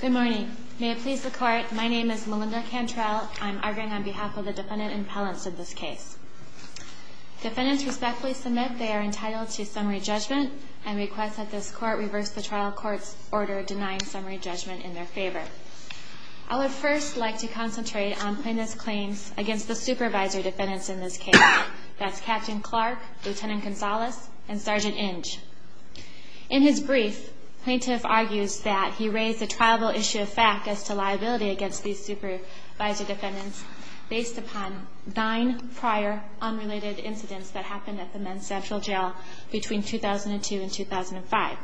Good morning. May it please the court, my name is Melinda Cantrell. I'm arguing on behalf of the defendant and appellants in this case. Defendants respectfully submit they are entitled to summary judgment and request that this court reverse the trial court's order denying summary judgment in their favor. I would first like to concentrate on plaintiff's claims against the supervisor defendants in this case. That's Captain Clark, Lieutenant Gonzalez, and Sergeant Inge. In his brief, plaintiff argues that he raised a triable issue of fact as to liability against these supervisor defendants based upon nine prior unrelated incidents that happened at the men's sexual jail between 2002 and 2005.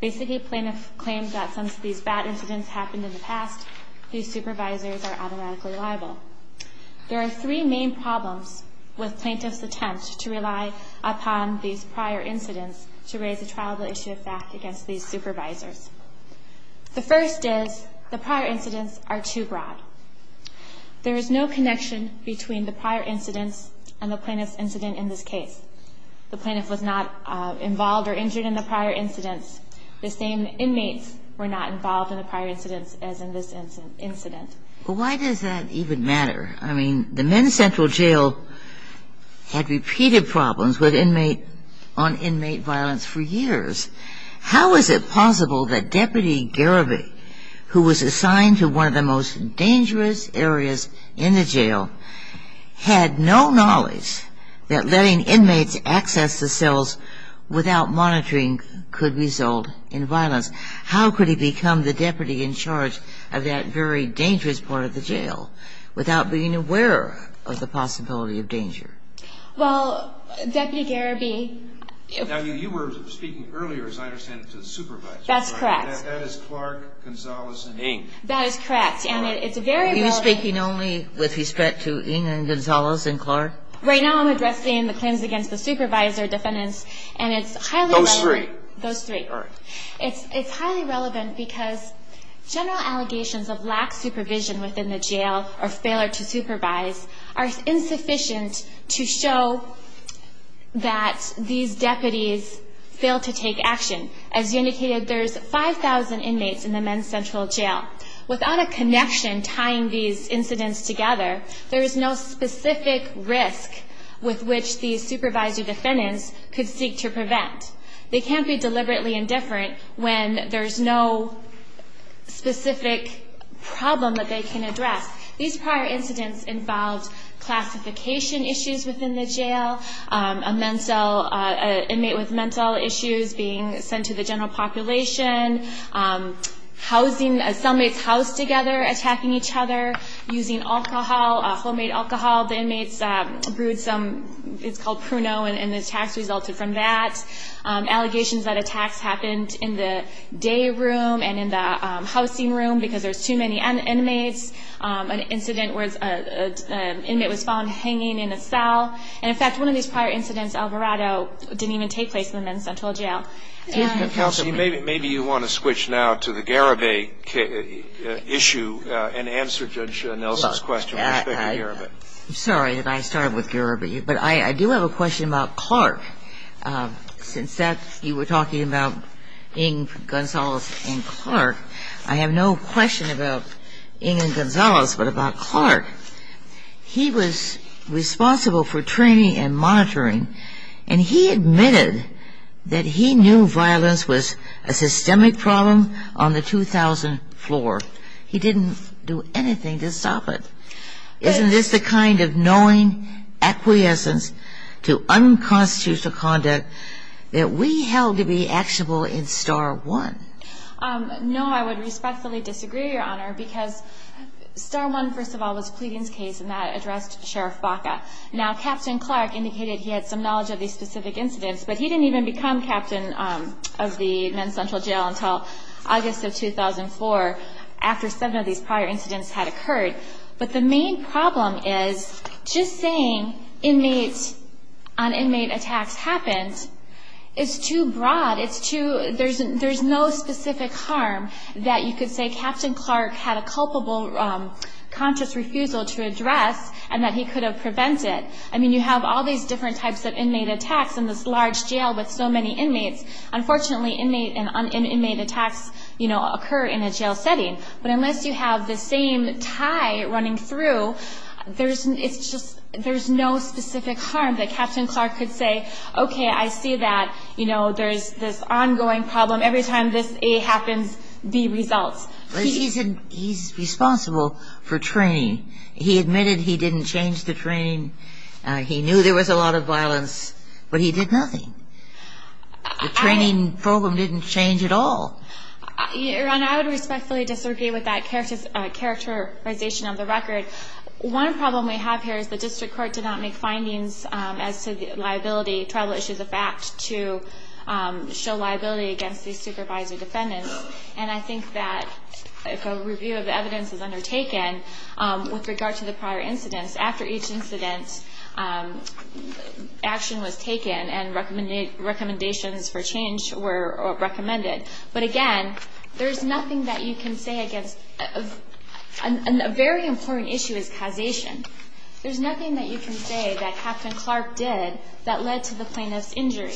Basically, plaintiff claims that since these bad incidents happened in the past, these supervisors are automatically liable. There are three main problems with plaintiff's attempts to rely upon these prior incidents to raise a triable issue of fact against these supervisors. The first is the prior incidents are too broad. There is no connection between the prior incidents and the plaintiff's incident in this case. The plaintiff was not involved or injured in the prior incidents. The same inmates were not involved in the prior incidents as in this incident. Well, why does that even matter? I mean, the men's central jail had repeated problems with inmate on inmate violence for years. How is it possible that Deputy Garibay, who was assigned to one of the most dangerous areas in the jail, had no knowledge that letting inmates access the cells without monitoring could result in violence? How could he become the deputy in charge of that very dangerous part of the jail without being aware of the possibility of danger? Well, Deputy Garibay ---- Now, you were speaking earlier, as I understand it, to the supervisor. That's correct. That is Clark, Gonzales and Ng. That is correct. And it's a very relevant ---- Are you speaking only with respect to Ng and Gonzales and Clark? Right now I'm addressing the claims against the supervisor defendants, and it's highly relevant ---- Those three. Those three. It's highly relevant because general allegations of lax supervision within the jail or failure to supervise are insufficient to show that these deputies failed to take action. As you indicated, there's 5,000 inmates in the men's central jail. Without a connection tying these incidents together, there is no specific risk with which these supervisory defendants could seek to prevent. They can't be deliberately indifferent when there's no specific problem that they can address. These prior incidents involved classification issues within the jail, a mental ---- an inmate with mental issues being sent to the general population, housing ---- cellmates housed together, attacking each other, using alcohol, homemade alcohol. The inmates brewed some ---- it's called pruno, and the attacks resulted from that. Allegations that attacks happened in the day room and in the housing room because there's too many inmates. An incident where an inmate was found hanging in a cell. And, in fact, one of these prior incidents, Alvarado, didn't even take place in the men's central jail. Counsel, maybe you want to switch now to the Garibay issue and answer Judge Nelson's question with respect to Garibay. I'm sorry that I started with Garibay, but I do have a question about Clark. Since you were talking about Ng, Gonzalez, and Clark, I have no question about Ng and Gonzalez, but about Clark. He was responsible for training and monitoring, and he admitted that he knew violence was a systemic problem on the 2000 floor. He didn't do anything to stop it. Isn't this the kind of knowing acquiescence to unconstitutional conduct that we held to be actionable in Star 1? No, I would respectfully disagree, Your Honor, because Star 1, first of all, was Pleading's case, and that addressed Sheriff Baca. Now, Captain Clark indicated he had some knowledge of these specific incidents, but he didn't even become captain of the men's central jail until August of 2004, after some of these prior incidents had occurred. But the main problem is just saying inmates on inmate attacks happened is too broad. There's no specific harm that you could say Captain Clark had a culpable conscious refusal to address and that he could have prevented. I mean, you have all these different types of inmate attacks in this large jail with so many inmates. Unfortunately, inmate and inmate attacks, you know, occur in a jail setting. But unless you have the same tie running through, there's no specific harm that Captain Clark could say, okay, I see that, you know, there's this ongoing problem. Every time this A happens, B results. He's responsible for training. He admitted he didn't change the training. He knew there was a lot of violence, but he did nothing. The training program didn't change at all. Your Honor, I would respectfully disagree with that characterization of the record. One problem we have here is the district court did not make findings as to the liability, tribal issues of fact, to show liability against these supervisor defendants. And I think that if a review of the evidence is undertaken with regard to the prior incidents, after each incident action was taken and recommendations for change were recommended. But, again, there's nothing that you can say against and a very important issue is causation. There's nothing that you can say that Captain Clark did that led to the plaintiff's injury.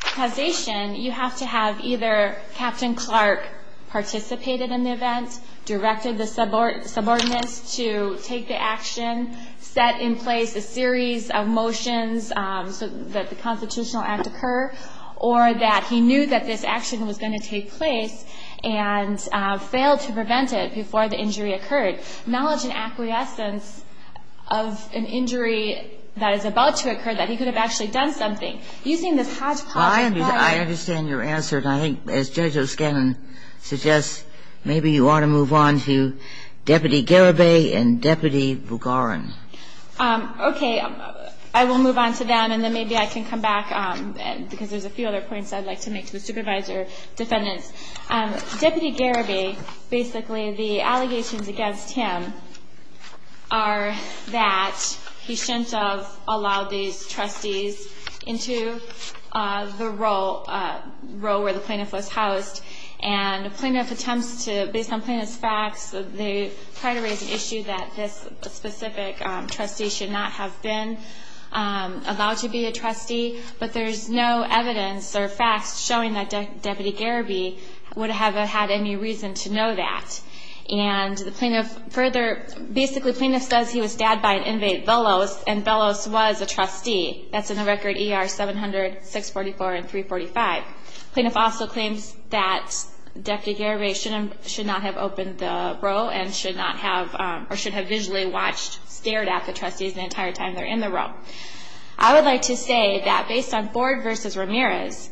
Causation, you have to have either Captain Clark participated in the event, directed the subordinates to take the action, set in place a series of motions so that the constitutional act occur, or that he knew that this action was going to take place and failed to prevent it before the injury occurred. Knowledge and acquiescence of an injury that is about to occur, that he could have actually done something using this hodgepodge of knowledge. Well, I understand your answer. And I think, as Judge O'Scannon suggests, maybe you ought to move on to Deputy Garibay and Deputy Bugarin. Okay. I will move on to them, and then maybe I can come back, because there's a few other points I'd like to make to the supervisor defendants. Deputy Garibay, basically the allegations against him are that he shouldn't have allowed these trustees into the role where the plaintiff was housed. And the plaintiff attempts to, based on plaintiff's facts, they try to raise an issue that this specific trustee should not have been allowed to be a trustee. But there's no evidence or facts showing that Deputy Garibay would have had any reason to know that. And the plaintiff further, basically the plaintiff says he was stabbed by an inmate, Bellows, and Bellows was a trustee. That's in the record ER 700, 644, and 345. The plaintiff also claims that Deputy Garibay should not have opened the row and should not have, or should have visually watched, stared at the trustees the entire time they're in the row. I would like to say that based on Ford v. Ramirez,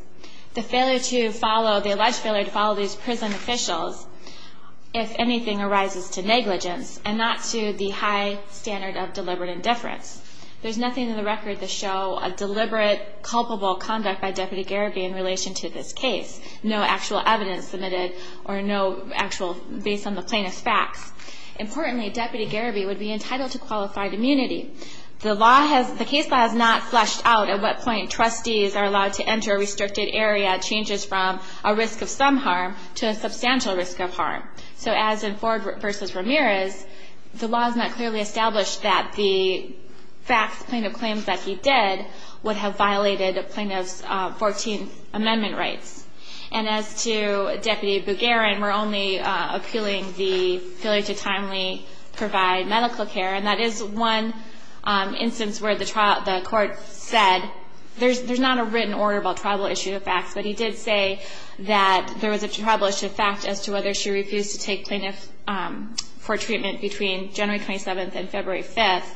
the alleged failure to follow these prison officials, if anything, arises to negligence and not to the high standard of deliberate indifference. There's nothing in the record to show a deliberate, culpable conduct by Deputy Garibay in relation to this case. No actual evidence submitted or no actual, based on the plaintiff's facts. Importantly, Deputy Garibay would be entitled to qualified immunity. The case law has not fleshed out at what point trustees are allowed to enter a restricted area, changes from a risk of some harm to a substantial risk of harm. So as in Ford v. Ramirez, the law has not clearly established that the facts, plaintiff claims that he did would have violated a plaintiff's 14th Amendment rights. And as to Deputy Bugarin, we're only appealing the failure to timely provide medical care, and that is one instance where the court said there's not a written order about tribal issue of facts, but he did say that there was a tribal issue of fact as to whether she refused to take plaintiff for treatment between January 27th and February 5th.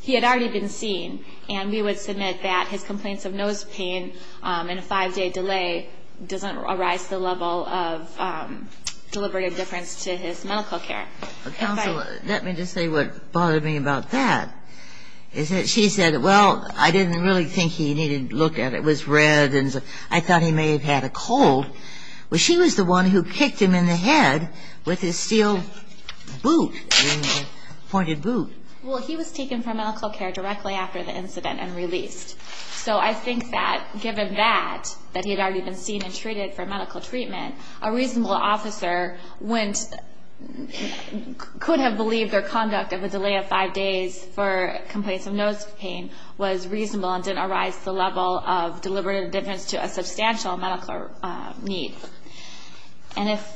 He had already been seen, and we would submit that his complaints of nose pain and a five-day delay doesn't arise to the level of deliberate indifference to his medical care. Counsel, let me just say what bothered me about that, is that she said, well, I didn't really think he needed to look at it. It was red, and I thought he may have had a cold. Well, she was the one who kicked him in the head with his steel boot, pointed boot. Well, he was taken for medical care directly after the incident and released. So I think that, given that, that he had already been seen and treated for medical treatment, a reasonable officer went, could have believed their conduct of a delay of five days for complaints of nose pain was reasonable and didn't arise to the level of deliberate indifference to a substantial medical need. And if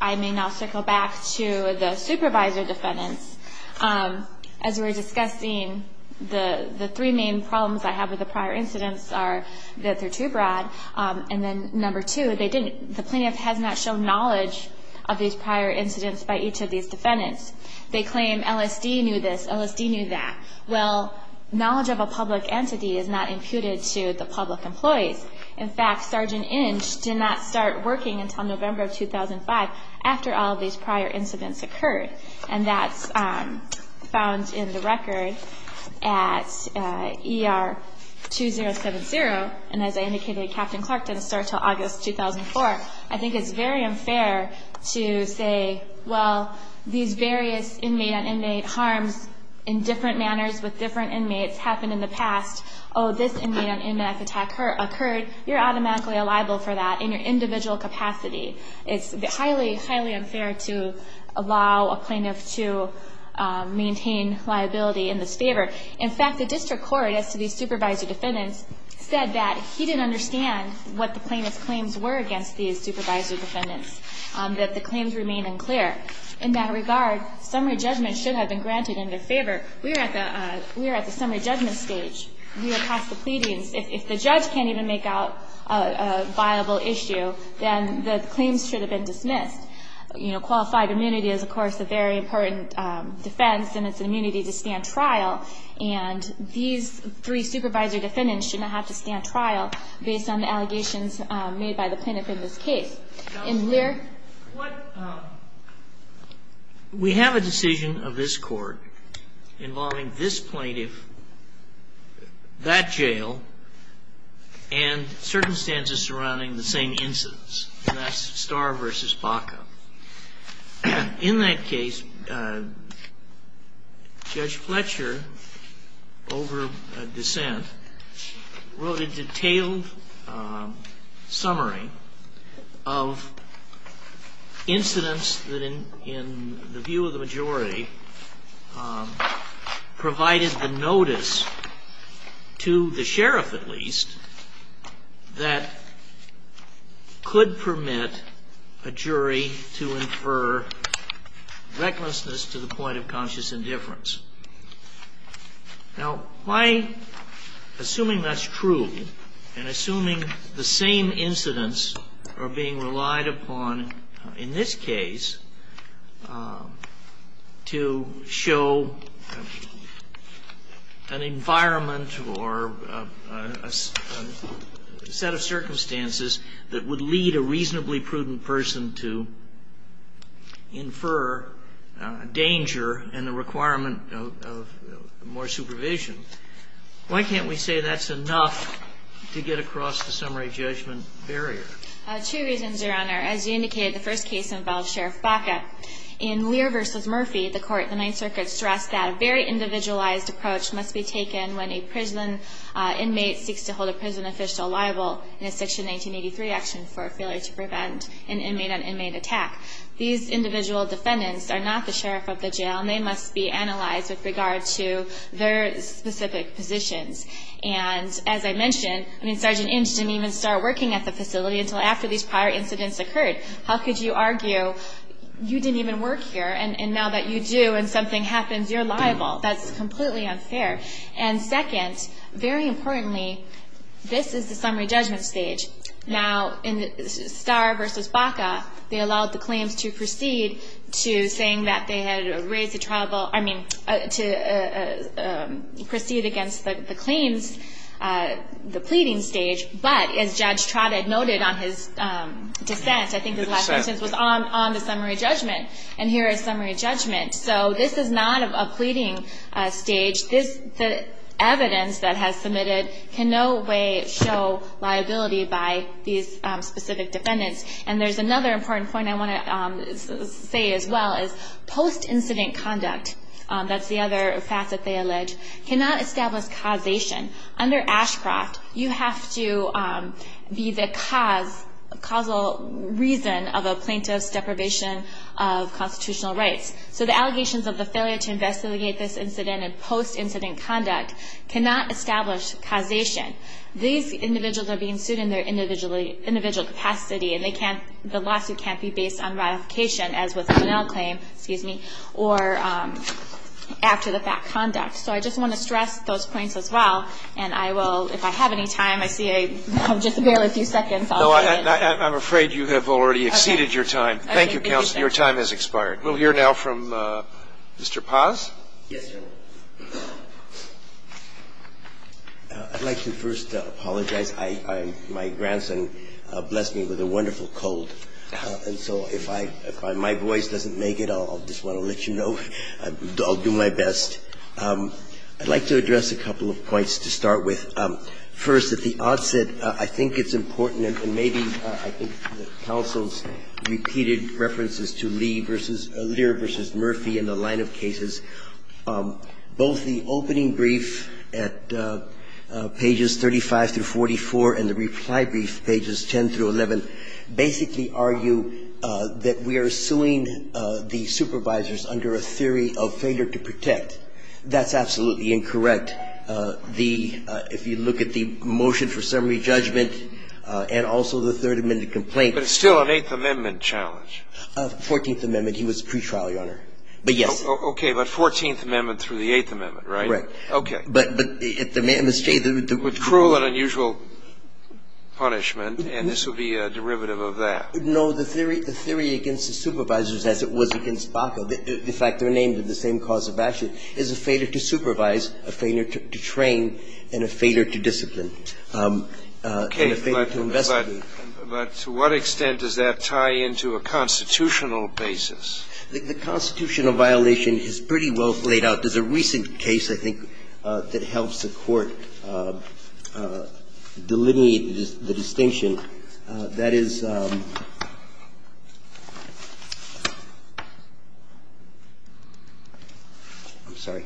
I may now circle back to the supervisor defendants, as we were discussing, the three main problems I have with the prior incidents are that they're too broad, and then number two, they didn't, the plaintiff has not shown knowledge of these prior incidents by each of these defendants. They claim LSD knew this, LSD knew that. Well, knowledge of a public entity is not imputed to the public employees. In fact, Sergeant Inge did not start working until November of 2005 after all of these prior incidents occurred. And that's found in the record at ER 2070. And as I indicated, Captain Clark didn't start until August 2004. I think it's very unfair to say, well, these various inmate-on-inmate harms in different manners with different inmates happened in the past. Oh, this inmate-on-inmate attack occurred. You're automatically liable for that in your individual capacity. It's highly, highly unfair to allow a plaintiff to maintain liability in this favor. In fact, the district court, as to these supervisor defendants, said that he didn't understand what the plaintiff's claims were against these supervisor defendants, that the claims remain unclear. In that regard, summary judgment should have been granted in their favor. We are at the summary judgment stage. We are past the pleadings. If the judge can't even make out a viable issue, then the claims should have been dismissed. Qualified immunity is, of course, a very important defense, and it's an immunity to stand trial. And these three supervisor defendants should not have to stand trial based on the allegations made by the plaintiff in this case. In Lear? We have a decision of this Court involving this plaintiff, that jail, and circumstances surrounding the same incidents, and that's Starr v. Baca. In that case, Judge Fletcher, over dissent, wrote a detailed summary of incidents that, in the view of the majority, provided the notice to the sheriff, at least, that could permit a jury to infer recklessness to the point of conscious indifference. Now, my assuming that's true, and assuming the same incidents are being relied upon in this case to show an environment or a set of circumstances that would lead a reasonably prudent person to infer danger and the requirement of more supervision, why can't we say that's enough to get across the summary judgment barrier? Two reasons, Your Honor. As you indicated, the first case involved Sheriff Baca. In Lear v. Murphy, the Ninth Circuit stressed that a very individualized approach must be taken when a prison inmate seeks to hold a prison official liable in a Section 1983 action for a failure to prevent an inmate-on-inmate attack. These individual defendants are not the sheriff of the jail, and they must be analyzed with regard to their specific positions. And, as I mentioned, Sergeant Inch didn't even start working at the facility until after these prior incidents occurred. How could you argue, you didn't even work here, and now that you do and something happens, you're liable? That's completely unfair. And second, very importantly, this is the summary judgment stage. Now, in Starr v. Baca, they allowed the claims to proceed to saying that they had raised a triable, I mean, to proceed against the claims, the pleading stage, but as Judge Trotted noted on his dissent, I think his last sentence was on the summary judgment, and here is summary judgment. So this is not a pleading stage. The evidence that has submitted can no way show liability by these specific defendants. And there's another important point I want to say as well is post-incident conduct, that's the other facet they allege, cannot establish causation. Under Ashcroft, you have to be the causal reason of a plaintiff's deprivation of constitutional rights. So the allegations of the failure to investigate this incident in post-incident conduct cannot establish causation. These individuals are being sued in their individual capacity, and the lawsuit can't be based on ratification, as with the Bonnell claim, or after the fact conduct. So I just want to stress those points as well. And I will, if I have any time, I see I have just barely a few seconds. I'll get in. I'm afraid you have already exceeded your time. Thank you, counsel. Your time has expired. We'll hear now from Mr. Paz. Yes, Your Honor. I'd like to first apologize. My grandson blessed me with a wonderful cold. And so if my voice doesn't make it, I'll just want to let you know. I'll do my best. I'd like to address a couple of points to start with. First, at the onset, I think it's important, and maybe I think the counsel's repeated references to Lee versus Lear versus Murphy and the line of cases, both the opening brief at pages 35 through 44 and the reply brief pages 10 through 11 basically argue that we are suing the supervisors under a theory of failure to protect. That's absolutely incorrect. If you look at the motion for summary judgment and also the Third Amendment complaint. But it's still an Eighth Amendment challenge. Fourteenth Amendment. He was pretrial, Your Honor. But, yes. Okay. But Fourteenth Amendment through the Eighth Amendment, right? Right. Okay. But the state that would do it. With cruel and unusual punishment. And this would be a derivative of that. No. The theory against the supervisors as it was against Baca. The fact they're named in the same cause as Baca is a failure to supervise, a failure to train, and a failure to discipline. And a failure to investigate. But to what extent does that tie into a constitutional basis? The constitutional violation is pretty well laid out. There's a recent case, I think, that helps the Court delineate the distinction. I'm sorry.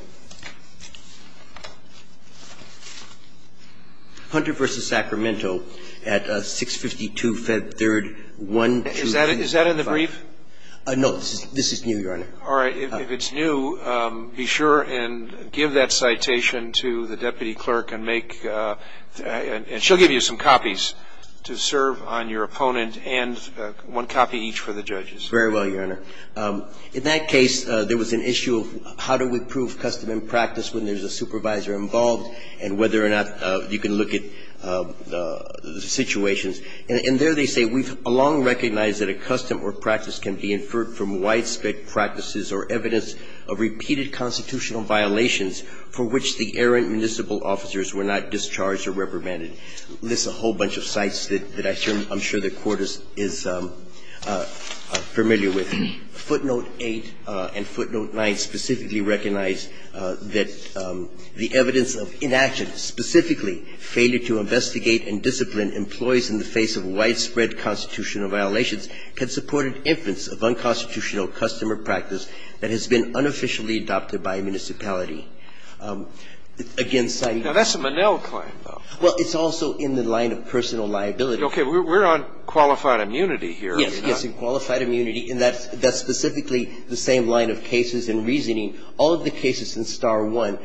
Hunter v. Sacramento at 652 Fed 3rd, 1225. Is that in the brief? No. This is new, Your Honor. All right. If it's new, be sure and give that citation to the deputy clerk and make and she'll give you some copies to see if it's new. And this is the case that the court recommended to serve on your opponent and one copy each for the judges. Very well, Your Honor. In that case, there was an issue of how do we prove custom and practice when there's a supervisor involved and whether or not you can look at the situations. And there they say, we've long recognized that a custom or practice can be inferred from widespread practices or evidence of repeated constitutional violations for which the errant municipal officers were not discharged or reprimanded. Lists a whole bunch of sites that I'm sure the Court is familiar with. Footnote 8 and footnote 9 specifically recognize that the evidence of inaction, specifically failure to investigate and discipline employees in the face of widespread constitutional violations, can support an inference of unconstitutional custom or practice that has been unofficially adopted by a municipality. Again, citing the case. Now, that's a Monell claim, though. Well, it's also in the line of personal liability. Okay. We're on qualified immunity here. Yes. And qualified immunity. And that's specifically the same line of cases and reasoning. All of the cases in Star 1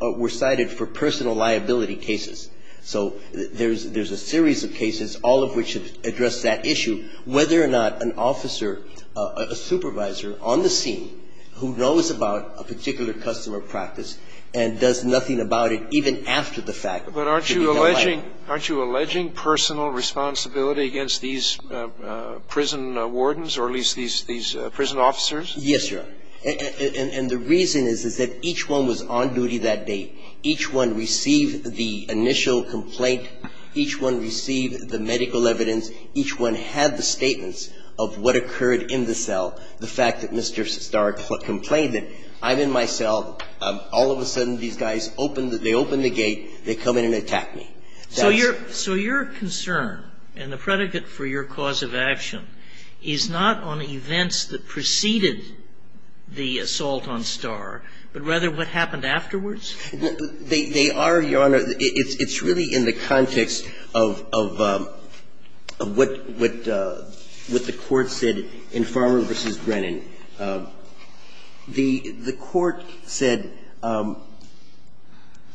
were cited for personal liability cases. So there's a series of cases, all of which address that issue, whether or not an officer, a supervisor on the scene who knows about a particular custom or practice and does nothing about it even after the fact. But aren't you alleging personal responsibility against these prison wardens or at least these prison officers? Yes, Your Honor. And the reason is, is that each one was on duty that day. Each one received the initial complaint. Each one received the medical evidence. Each one had the statements of what occurred in the cell. The fact that Mr. Star complained that I'm in my cell, all of a sudden these guys opened the gate, they come in and attack me. So your concern and the predicate for your cause of action is not on events that led to the assault on Star, but rather what happened afterwards? They are, Your Honor. It's really in the context of what the Court said in Farmer v. Brennan. The Court said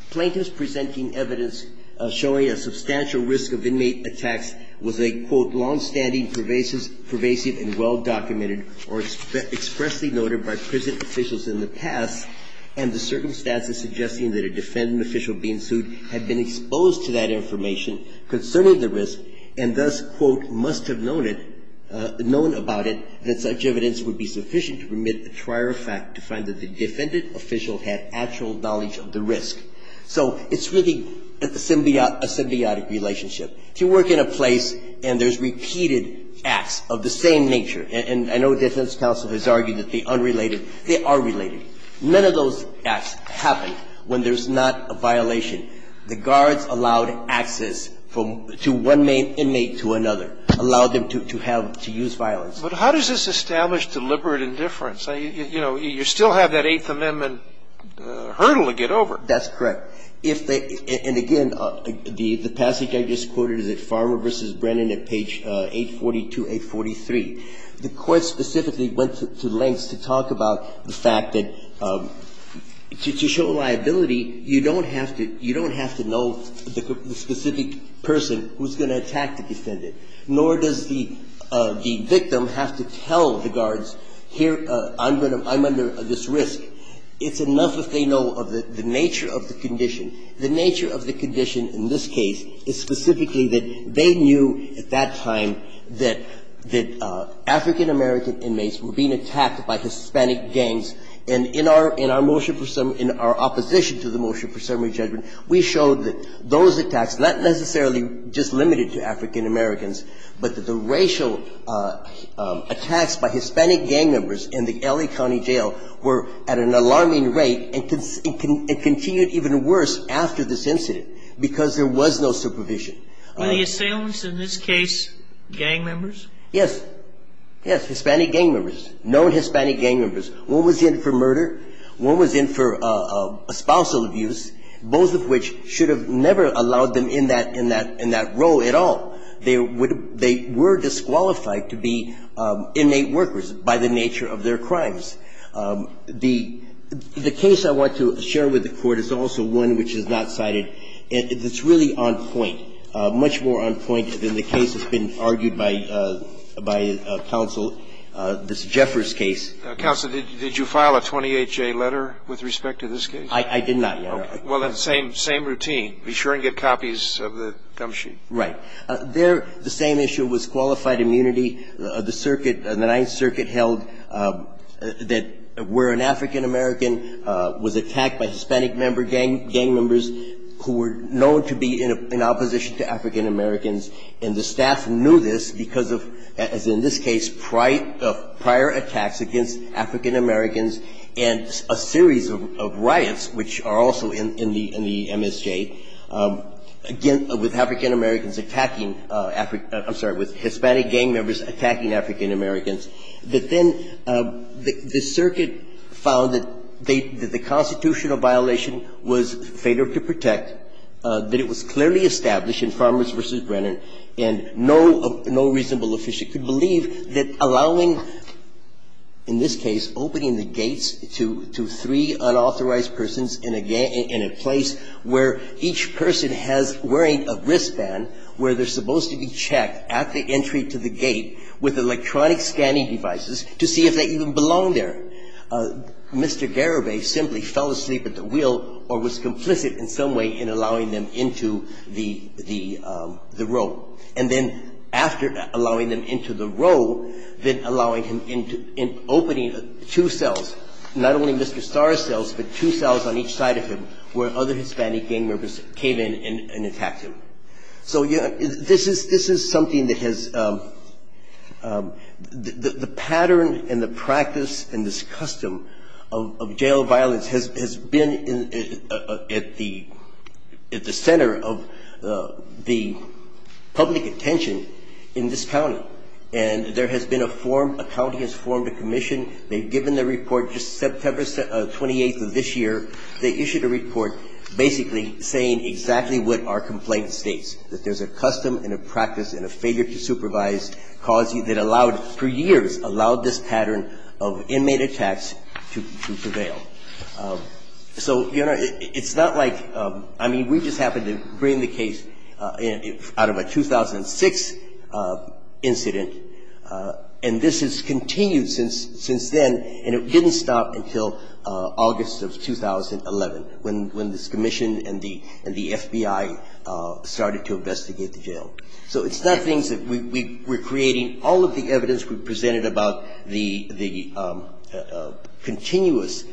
plaintiffs presenting evidence showing a substantial risk of inmate attacks was a, quote, longstanding, pervasive and well documented or expressly noted by prison officials in the past and the circumstances suggesting that a defendant official being sued had been exposed to that information concerning the risk and thus, quote, must have known it, known about it that such evidence would be sufficient to remit a prior fact to find that the defendant official had actual knowledge of the risk. So it's really a symbiotic relationship. If you work in a place and there's repeated acts of the same nature, and I know defense counsel has argued that the unrelated, they are related, none of those acts happen when there's not a violation. The guards allowed access to one inmate to another, allowed them to have, to use violence. But how does this establish deliberate indifference? You know, you still have that Eighth Amendment hurdle to get over. That's correct. If they, and again, the passage I just quoted is at Farmer v. Brennan at page 842-843. The Court specifically went to lengths to talk about the fact that to show liability, you don't have to know the specific person who's going to attack the defendant, nor does the victim have to tell the guards, here, I'm under this risk. It's enough if they know of the nature of the condition. The nature of the condition in this case is specifically that they knew at that time that African-American inmates were being attacked by Hispanic gangs. And in our motion for summary, in our opposition to the motion for summary judgment, we showed that those attacks, not necessarily just limited to African-Americans, but that the racial attacks by Hispanic gang members in the L.A. County jail were at an alarming rate and continued even worse after this incident because there was no supervision. Were the assailants in this case gang members? Yes. Yes, Hispanic gang members, known Hispanic gang members. One was in for murder, one was in for espousal abuse, both of which should have never allowed them in that role at all. They were disqualified to be innate workers by the nature of their crimes. The case I want to share with the Court is also one which is not cited. It's really on point, much more on point than the case that's been argued by counsel, this Jeffers case. Counsel, did you file a 28-J letter with respect to this case? I did not, Your Honor. Well, then, same routine. Be sure and get copies of the gum sheet. Right. There, the same issue was qualified immunity. The circuit, the Ninth Circuit held that where an African-American was attacked by Hispanic member gang members who were known to be in opposition to African-Americans, and the staff knew this because of, as in this case, prior attacks against African-Americans and a series of riots, which are also in the MSJ, with African-Americans attacking African, I'm sorry, with Hispanic gang members attacking African-Americans, that then the circuit found that they, that the constitutional violation was fatal to protect, that it was clearly established in Farmers v. Brennan, and no reasonable official could believe that allowing, in this case, opening the gates to three unauthorized persons in a place where each person has, wearing a wristband, where they're supposed to be checked at the entry to the gate with electronic scanning devices to see if they even belong there, Mr. Garibay simply fell asleep at the wheel or was complicit in some way in allowing them into the row, and then after allowing them into the row, then allowing him into, in opening two cells, not only Mr. Starr's cells, but two cells on each side of him where other Hispanic gang members came in and attacked him. So this is something that has, the pattern and the practice and this custom of jail violence has been at the center of the public attention in this county. And there has been a form, a county has formed a commission. They've given the report just September 28th of this year. They issued a report basically saying exactly what our complaint states, that there's a custom and a practice and a failure to supervise policy that allowed, for years, allowed this pattern of inmate attacks to prevail. So it's not like, I mean, we just happened to bring the case out of a 2006 incident, and this has continued since then, and it didn't stop until August of 2011 when this commission and the FBI started to investigate the jail. So it's not things that we, we're creating, all of the evidence we've presented about the continuous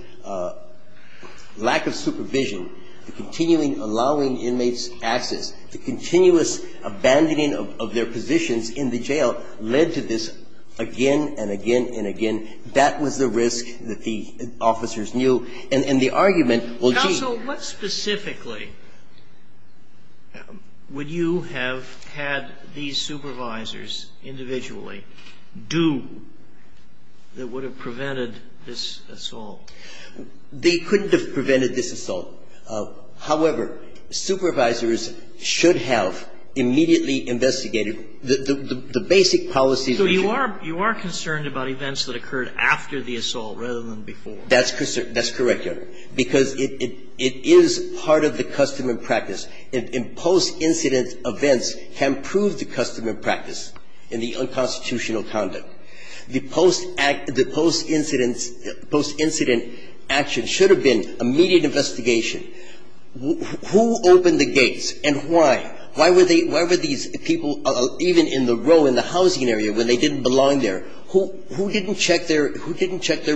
lack of supervision, the continuing allowing inmates access, the continuous abandoning of their positions in the jail led to this again and again and again. That was the risk that the officers knew. And the argument, well, gee. So what specifically would you have had these supervisors individually do that would have prevented this assault? They couldn't have prevented this assault. However, supervisors should have immediately investigated the basic policies. So you are concerned about events that occurred after the assault rather than before. That's correct, Your Honor, because it is part of the custom and practice. And post-incident events can prove the custom and practice in the unconstitutional conduct. The post-incident action should have been immediate investigation. Who opened the gates and why? Why were these people even in the row in the housing area when they didn't belong there, who didn't check their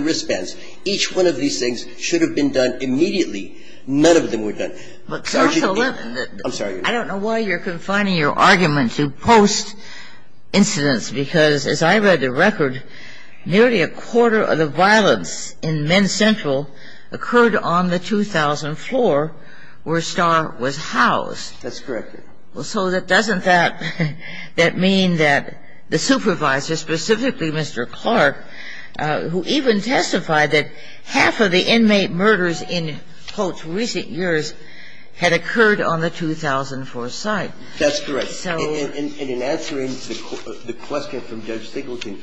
wristbands? Each one of these things should have been done immediately. None of them were done. But, counsel, I don't know why you're confining your argument to post-incidents, because as I read the record, nearly a quarter of the violence in Men's Central occurred on the 2,000th floor where Starr was housed. That's correct, Your Honor. So that doesn't that mean that the supervisor, specifically Mr. Clark, who even testified that half of the inmate murders in, quote, recent years had occurred on the 2,000th floor site. That's correct. And in answering the question from Judge Singleton,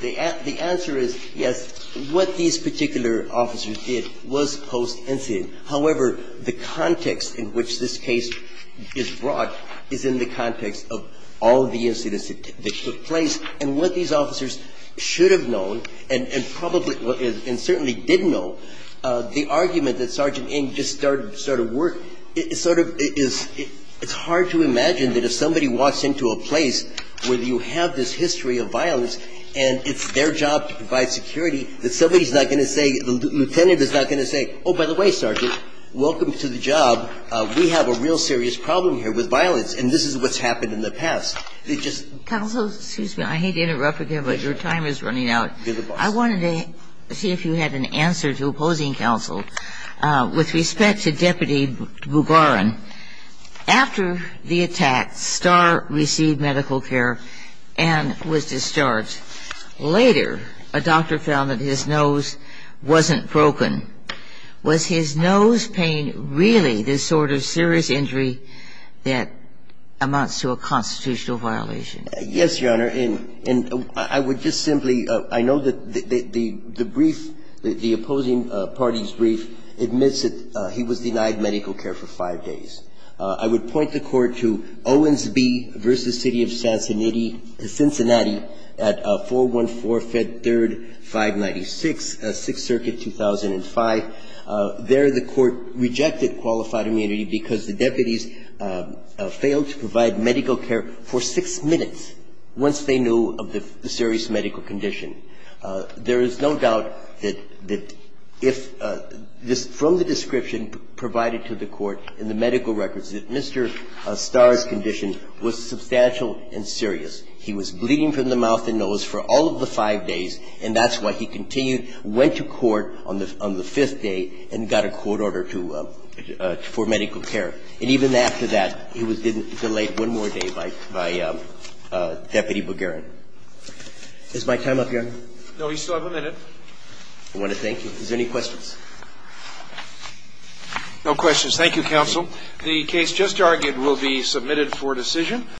the answer is, yes, what these particular officers did was post-incident. However, the context in which this case is brought is in the context of all of the incidents that took place and what these officers should have known and probably and certainly didn't know. The argument that Sergeant Ng just started to sort of work, it sort of is, it's hard to imagine that if somebody walks into a place where you have this history of violence and it's their job to provide security, that somebody's not going to say, the lieutenant is not going to say, oh, by the way, Sergeant, welcome to the job. We have a real serious problem here with violence. And this is what's happened in the past. Counsel, excuse me. I hate to interrupt again, but your time is running out. I wanted to see if you had an answer to opposing counsel. With respect to Deputy Bugaran, after the attack, Starr received medical care and was discharged. Later, a doctor found that his nose wasn't broken. Was his nose pain really this sort of serious injury that amounts to a constitutional violation? Yes, Your Honor. And I would just simply – I know that the brief, the opposing party's brief admits that he was denied medical care for five days. I would point the Court to Owens v. City of Cincinnati at 414 Fed 3rd, 596, 6th Circuit, 2005. There, the Court rejected qualified immunity because the deputies failed to provide medical care for six minutes once they knew of the serious medical condition. There is no doubt that if from the description provided to the Court in the medical records that Mr. Starr's condition was substantial and serious. He was bleeding from the mouth and nose for all of the five days, and that's why he continued, went to court on the fifth day and got a court order to – for medical care. And even after that, he was delayed one more day by Deputy Bugaran. Is my time up, Your Honor? No. You still have a minute. I want to thank you. Is there any questions? No questions. Thank you, Counsel. The case just argued will be submitted for decision.